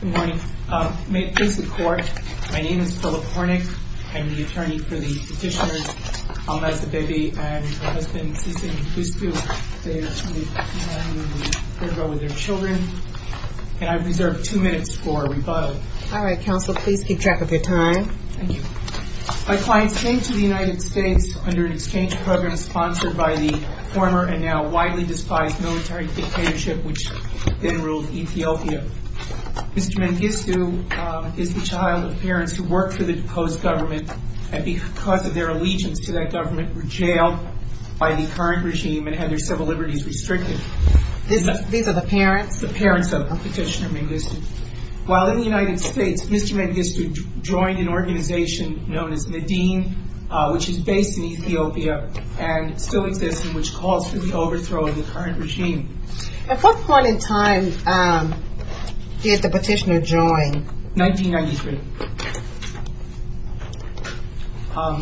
Good morning. May it please the Court, my name is Philip Hornick. I'm the attorney for the petitioners Al-Mazdabebi and her husband, Sissi Mkhouspiou. They are two men who were in a caravan with their children. And I've reserved two minutes for rebuttal. All right, counsel, please keep track of your time. Thank you. My clients came to the United States under an exchange program sponsored by the former and now widely despised military dictatorship which then ruled Ethiopia. Mr. Mengistu is the child of parents who worked for the deposed government and because of their allegiance to that government were jailed by the current regime and had their civil liberties restricted. These are the parents? That's the parents of Petitioner Mengistu. While in the United States, Mr. Mengistu joined an organization known as Nadine which is based in Ethiopia and still exists and which calls for the overthrow of the current regime. At what point in time did the petitioner join? 1993.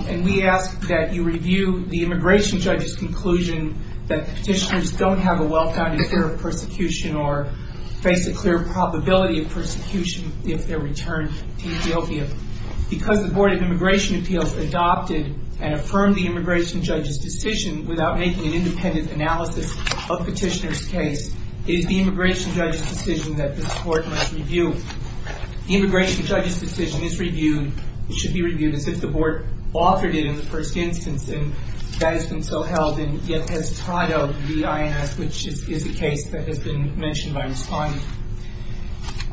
And we ask that you review the immigration judge's conclusion that petitioners don't have a well-founded fear of persecution or face a clear probability of persecution if they're returned to Ethiopia. Because the Board of Immigration Appeals adopted and affirmed the immigration judge's decision without making an independent analysis of petitioner's case, it is the immigration judge's decision that this Court must review. The immigration judge's decision is reviewed, should be reviewed as if the Board authored it in the first instance and that has been so held and yet has tied up the INS which is a case that has been mentioned by Respondent.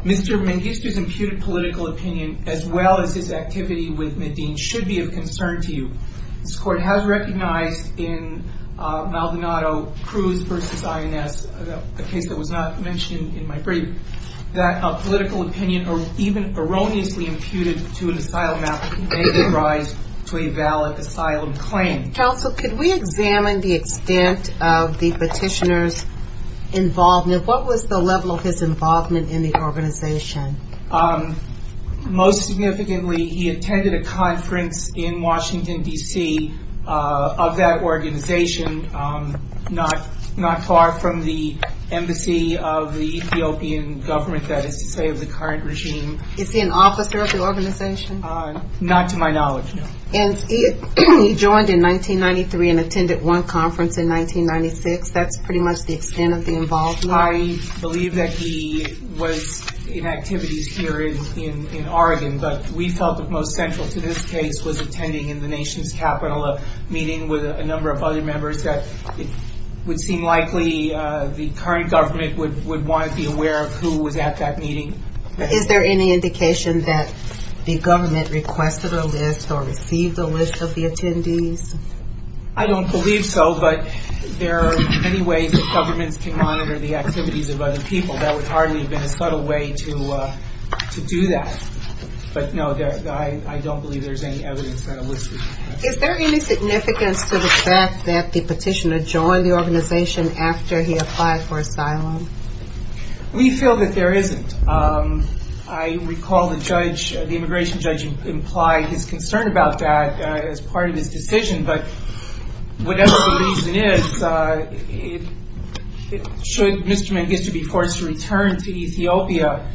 Mr. Mengistu's imputed political opinion as well as his activity with Nadine should be of concern to you. This Court has recognized in Maldonado Cruz v. INS, a case that was not mentioned in my brief, that a political opinion even erroneously imputed to an asylum applicant may give rise to a valid asylum claim. Counsel, could we examine the extent of the petitioner's involvement? What was the level of his involvement in the organization? Most significantly, he attended a conference in Washington, D.C. of that organization, not far from the embassy of the Ethiopian government, that is to say of the current regime. Is he an officer of the organization? Not to my knowledge, no. And he joined in 1993 and attended one conference in 1996. That's pretty much the extent of the involvement? I believe that he was in activities here in Oregon, but we felt that most central to this case was attending in the nation's capital a meeting with a number of other members that it would seem likely the current government would want to be aware of who was at that meeting. Is there any indication that the government requested a list or received a list of the attendees? I don't believe so, but there are many ways that governments can monitor the activities of other people. There would hardly have been a subtle way to do that. But no, I don't believe there's any evidence that a list was given. Is there any significance to the fact that the petitioner joined the organization after he applied for asylum? We feel that there isn't. I recall the immigration judge implied his concern about that as part of his decision, but whatever the reason is, should Mr. Mengistu be forced to return to Ethiopia,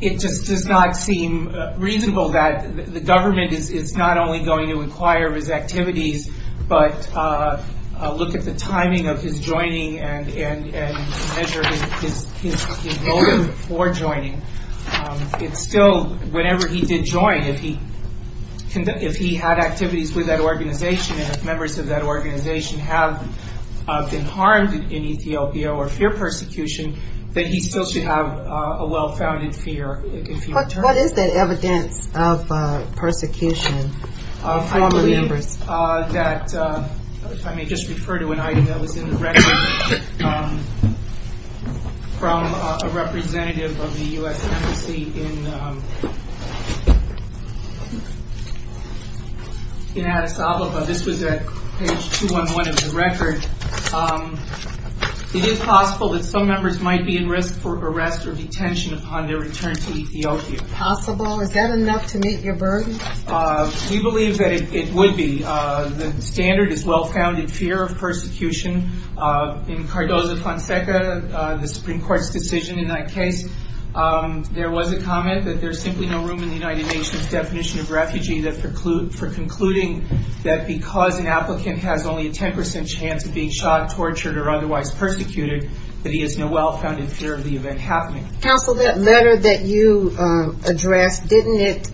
it just does not seem reasonable that the government is not only going to inquire of his activities, but look at the timing of his joining and measure his motive for joining. It's still, whenever he did join, if he had activities with that organization and if members of that organization have been harmed in Ethiopia or fear persecution, then he still should have a well-founded fear. What is that evidence of persecution? I may just refer to an item that was in the record from a representative of the U.S. Embassy in Addis Ababa. This was at page 211 of the record. It is possible that some members might be in risk for arrest or detention upon their return to Ethiopia. Is that possible? Is that enough to meet your burden? We believe that it would be. The standard is well-founded fear of persecution. In Cardozo Fonseca, the Supreme Court's decision in that case, there was a comment that there's simply no room in the United Nations definition of refugee for concluding that because an applicant has only a 10% chance of being shot, tortured, or otherwise persecuted, that he has no well-founded fear of the event happening. Counsel, that letter that you addressed, didn't it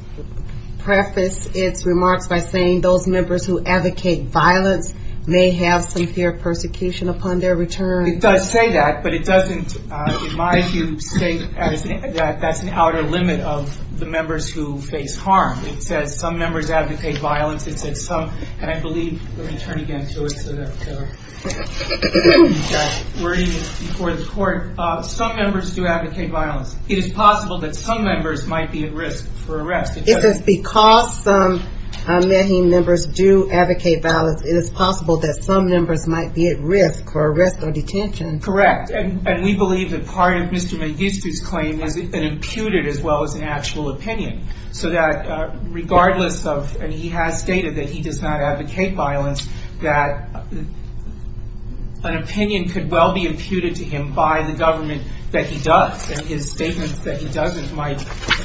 preface its remarks by saying those members who advocate violence may have some fear of persecution upon their return? It does say that, but it doesn't, in my view, state that that's an outer limit of the members who face harm. It says some members advocate violence. It says some, and I believe, let me turn again to it so that we're even before the court. Some members do advocate violence. It is possible that some members might be at risk for arrest. It says because some MEHIM members do advocate violence, it is possible that some members might be at risk for arrest or detention. Correct, and we believe that part of Mr. Magistri's claim is an imputed as well as an actual opinion, so that regardless of, and he has stated that he does not advocate violence, that an opinion could well be imputed to him by the government that he does, and his statements that he doesn't might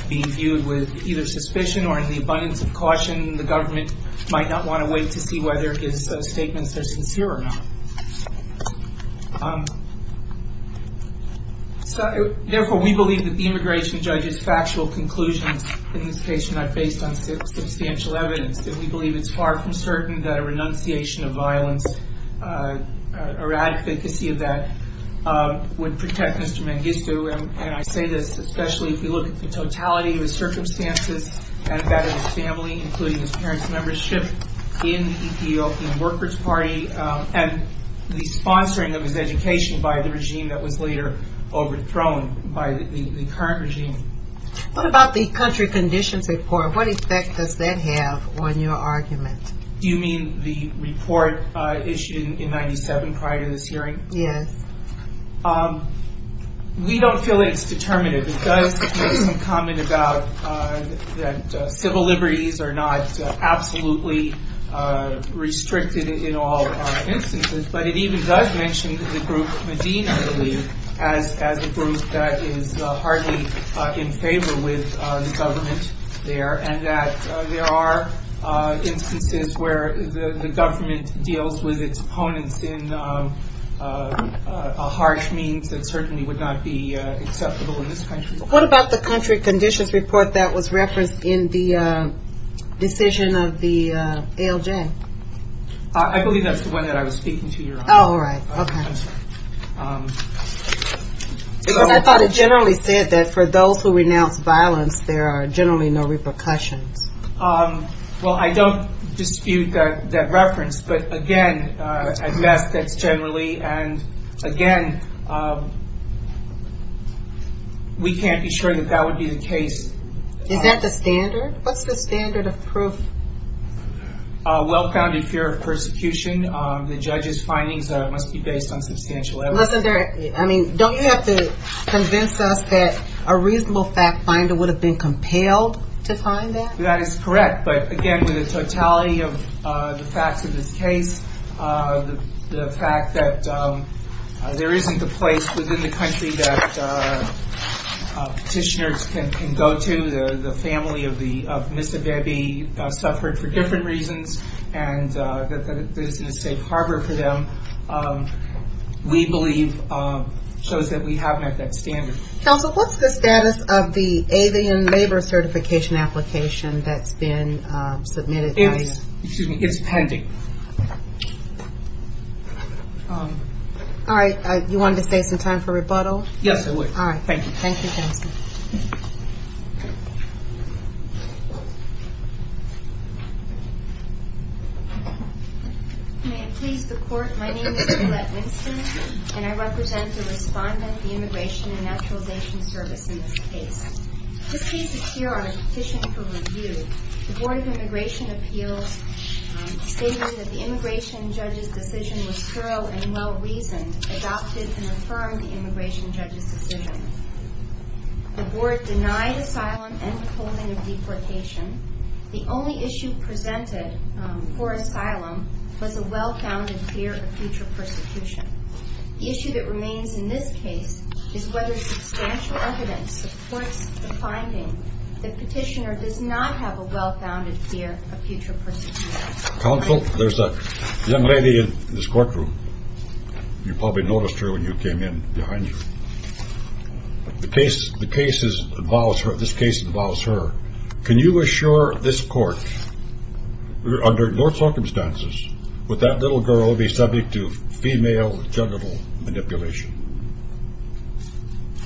be viewed with either suspicion or in the abundance of caution. The government might not want to wait to see whether his statements are sincere or not. Therefore, we believe that the immigration judge's factual conclusions in this case are not based on substantial evidence, and we believe it's far from certain that a renunciation of violence or advocacy of that would protect Mr. Magistri. And I say this especially if you look at the totality of his circumstances and that of his family, including his parents' membership in the Ethiopian Workers' Party and the sponsoring of his education by the regime that was later overthrown by the current regime. What about the country conditions report? What effect does that have on your argument? Do you mean the report issued in 97 prior to this hearing? Yes. We don't feel it's determinative. It does make some comment about that civil liberties are not absolutely restricted in all instances, but it even does mention the group Medina, I believe, as a group that is hardly in favor with the government there, and that there are instances where the government deals with its opponents in a harsh means that certainly would not be acceptable in this country. What about the country conditions report that was referenced in the decision of the ALJ? I believe that's the one that I was speaking to, Your Honor. Oh, all right. Okay. Because I thought it generally said that for those who renounce violence, there are generally no repercussions. Well, I don't dispute that reference, but again, I guess that's generally, and again, we can't be sure that that would be the case. Is that the standard? What's the standard of proof? Well-founded fear of persecution. The judge's findings must be based on substantial evidence. Listen, Derek, I mean, don't you have to convince us that a reasonable fact finder would have been compelled to find that? That is correct, but again, with the totality of the facts of this case, the fact that there isn't a place within the country that petitioners can go to, the family of Miss Abebe suffered for different reasons, and that there isn't a safe harbor for them, we believe shows that we haven't met that standard. Counsel, what's the status of the alien labor certification application that's been submitted? It's pending. All right. You wanted to save some time for rebuttal? Yes, I would. All right. Thank you. Thank you, Counsel. May it please the Court, my name is Juliet Winston, and I represent the respondent, the Immigration and Naturalization Service, in this case. This case is here on a petition for review. The Board of Immigration Appeals stated that the immigration judge's decision was thorough and well-reasoned, adopted, and affirmed the immigration judge's decision. The Board denied asylum and the holding of deportation. The only issue presented for asylum was a well-founded fear of future persecution. The issue that remains in this case is whether substantial evidence supports the finding that petitioner does not have a well-founded fear of future persecution. Counsel, there's a young lady in this courtroom. You probably noticed her when you came in behind you. This case involves her. Can you assure this court, under your circumstances, would that little girl be subject to female genital manipulation?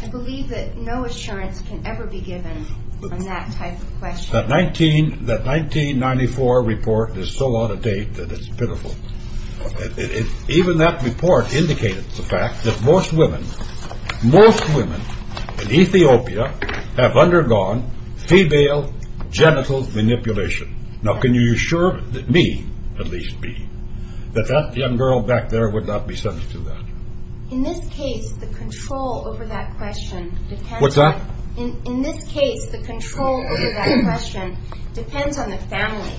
I believe that no assurance can ever be given on that type of question. That 1994 report is so out of date that it's pitiful. Even that report indicated the fact that most women, most women in Ethiopia have undergone female genital manipulation. Now, can you assure me, at least me, that that young girl back there would not be subject to that? In this case, the control over that question depends on the family.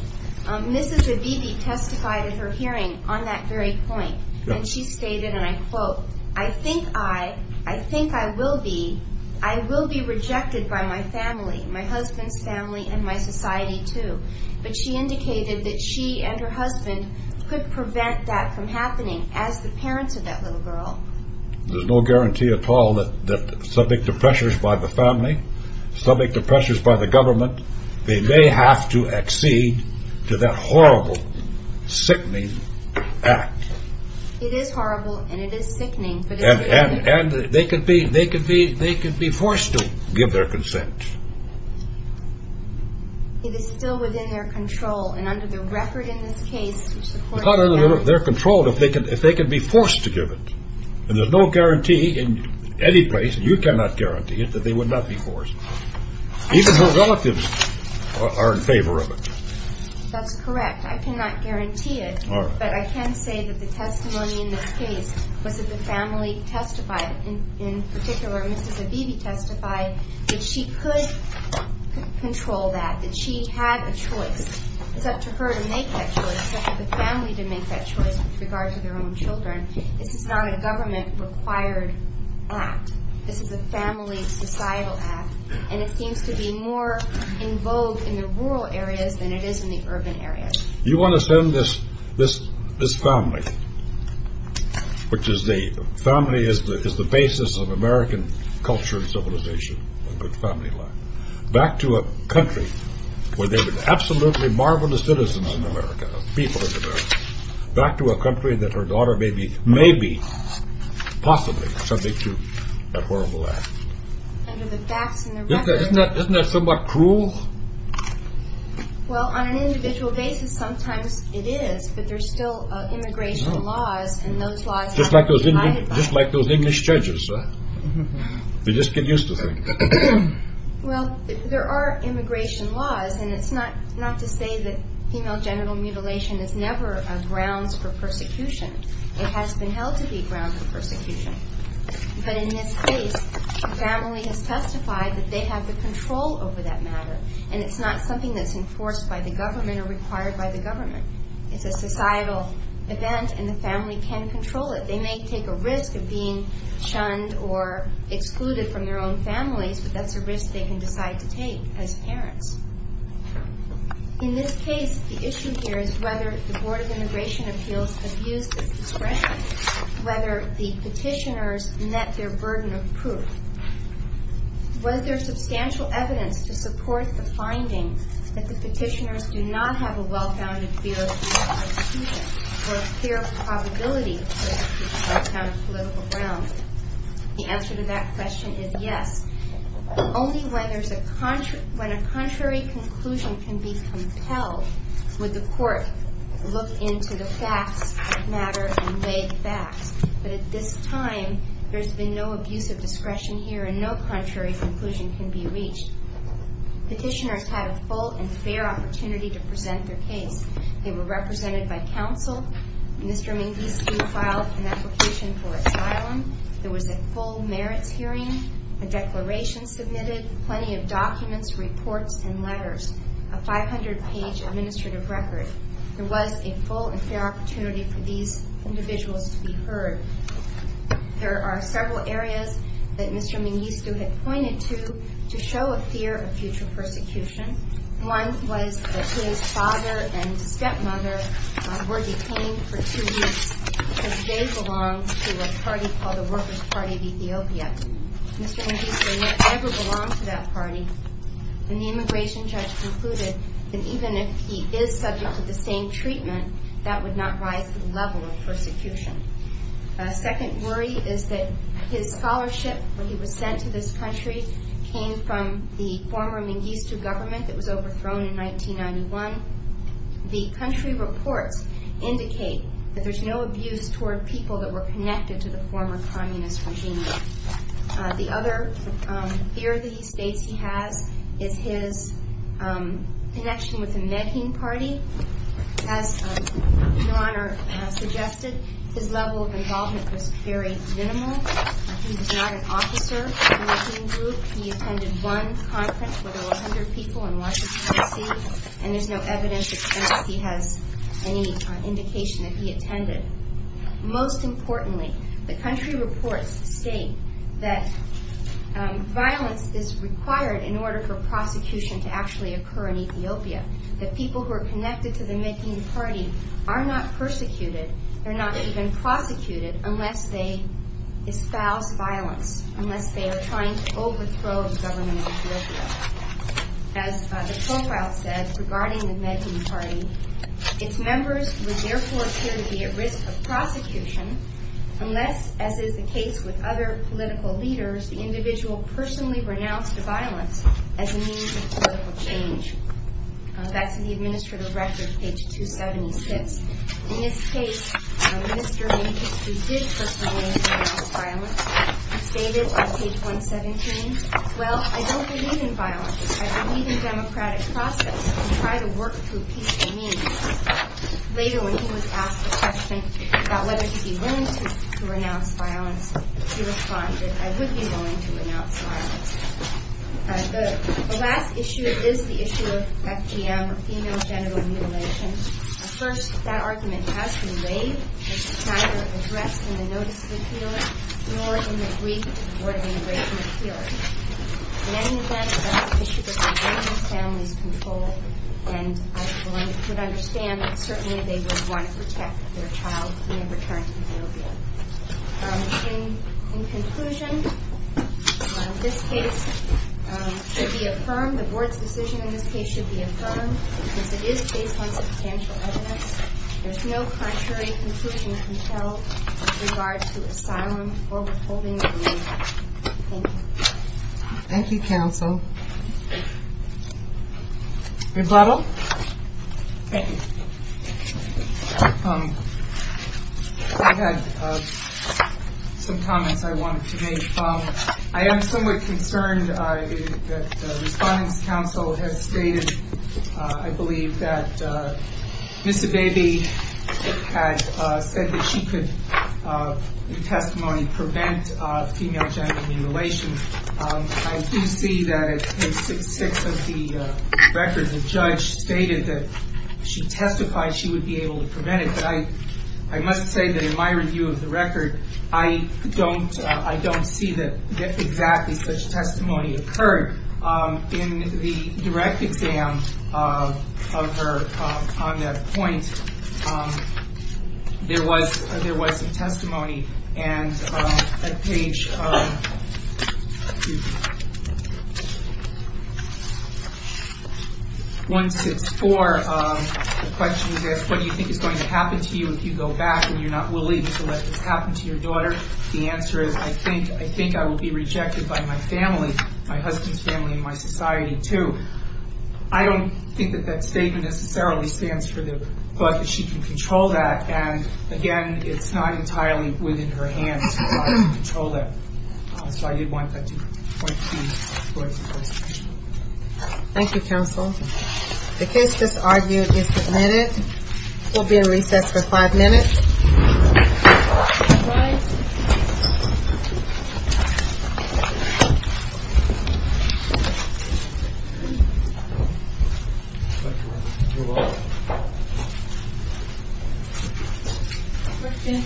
Mrs. Abibi testified at her hearing on that very point, and she stated, and I quote, I think I, I think I will be, I will be rejected by my family, my husband's family, and my society, too. But she indicated that she and her husband could prevent that from happening as the parents of that little girl. There's no guarantee at all that subject to pressures by the family, subject to pressures by the government, they may have to accede to that horrible, sickening act. It is horrible, and it is sickening. And they could be, they could be, they could be forced to give their consent. It is still within their control. And under the record in this case, which the court- It's not under their control if they can, if they can be forced to give it. And there's no guarantee in any place, and you cannot guarantee it, that they would not be forced. Even her relatives are in favor of it. That's correct. I cannot guarantee it. All right. But I can say that the testimony in this case was that the family testified, and in particular, Mrs. Abebe testified that she could control that, that she had a choice. It's up to her to make that choice. It's up to the family to make that choice with regard to their own children. This is not a government-required act. This is a family, societal act. And it seems to be more in vogue in the rural areas than it is in the urban areas. You want to send this family, which is the basis of American culture and civilization, a good family life, back to a country where they were absolutely marvelous citizens in America, people in America, back to a country that her daughter may be possibly subject to a horrible act. Under the facts and the record- Isn't that somewhat cruel? Well, on an individual basis, sometimes it is, but there's still immigration laws, and those laws- Just like those English judges, right? They just get used to things. Well, there are immigration laws, and it's not to say that female genital mutilation is never a grounds for persecution. But in this case, the family has testified that they have the control over that matter, and it's not something that's enforced by the government or required by the government. It's a societal event, and the family can control it. They may take a risk of being shunned or excluded from their own families, but that's a risk they can decide to take as parents. In this case, the issue here is whether the Board of Immigration Appeals has used this discretion, whether the petitioners met their burden of proof. Was there substantial evidence to support the finding that the petitioners do not have a well-founded fear of persecution or a fear of the probability of being put on a political ground? The answer to that question is yes. Only when a contrary conclusion can be compelled would the court look into the facts of the matter and weigh the facts. But at this time, there's been no abuse of discretion here, and no contrary conclusion can be reached. Petitioners had a full and fair opportunity to present their case. They were represented by counsel. Mr. Mengistu filed an application for asylum. There was a full merits hearing, a declaration submitted, plenty of documents, reports, and letters, a 500-page administrative record. There was a full and fair opportunity for these individuals to be heard. There are several areas that Mr. Mengistu had pointed to to show a fear of future persecution. One was that his father and stepmother were detained for two weeks because they belonged to a party called the Workers' Party of Ethiopia. Mr. Mengistu never belonged to that party. And the immigration judge concluded that even if he is subject to the same treatment, that would not rise to the level of persecution. A second worry is that his scholarship, when he was sent to this country, came from the former Mengistu government that was overthrown in 1991. The country reports indicate that there's no abuse toward people that were connected to the former communist regime. The other fear that he states he has is his connection with the Menging Party. As Your Honor has suggested, his level of involvement was very minimal. He was not an officer in the Menging Group. He attended one conference where there were 100 people in Washington, D.C., and there's no evidence that he has any indication that he attended. Most importantly, the country reports state that violence is required in order for prosecution to actually occur in Ethiopia, that people who are connected to the Menging Party are not persecuted, they're not even prosecuted unless they espouse violence, unless they are trying to overthrow the government of Ethiopia. As the profile says, regarding the Menging Party, its members would therefore appear to be at risk of prosecution unless, as is the case with other political leaders, the individual personally renounced violence as a means of political change. That's in the administrative record, page 276. In this case, Mr. Mengistu did personally renounce violence. He stated on page 117, Well, I don't believe in violence. I believe in democratic process and try to work to a peace of means. Later, when he was asked a question about whether he'd be willing to renounce violence, he responded, I would be willing to renounce violence. The last issue is the issue of FGM, female genital mutilation. First, that argument has been laid, which is neither addressed in the notice of appeal nor in the brief of the Board of Immigration Appeal. In any event, that's an issue that should be within the family's control, and I would understand that certainly they would want to protect their child when they return to Ethiopia. In conclusion, this case should be affirmed, the Board's decision in this case should be affirmed, because it is based on substantial evidence. There's no contrary conclusion can be held with regard to asylum or withholding a visa. Thank you. Thank you, counsel. Rebuttal? Thank you. I had some comments I wanted to make. I am somewhat concerned that the Respondents' Council has stated, I believe that Ms. Abebe had said that she could, in testimony, prevent female genital mutilation. I do see that in case 6 of the record, the judge stated that she testified she would be able to prevent it, but I must say that in my review of the record, I don't see that exactly such testimony occurred. In the direct exam of her on that point, there was some testimony, and at page 164, the question is asked, what do you think is going to happen to you if you go back and you're not willing to let this happen to your daughter? The answer is, I think I will be rejected by my family, my husband's family, and my society, too. I don't think that that statement necessarily stands for the thought that she can control that, and, again, it's not entirely within her hands to control that. So I did want that to point to those questions. Thank you, counsel. The case that's argued is submitted. We'll be in recess for five minutes. All rise. We're going to recess for five minutes. We're going to recess for five minutes.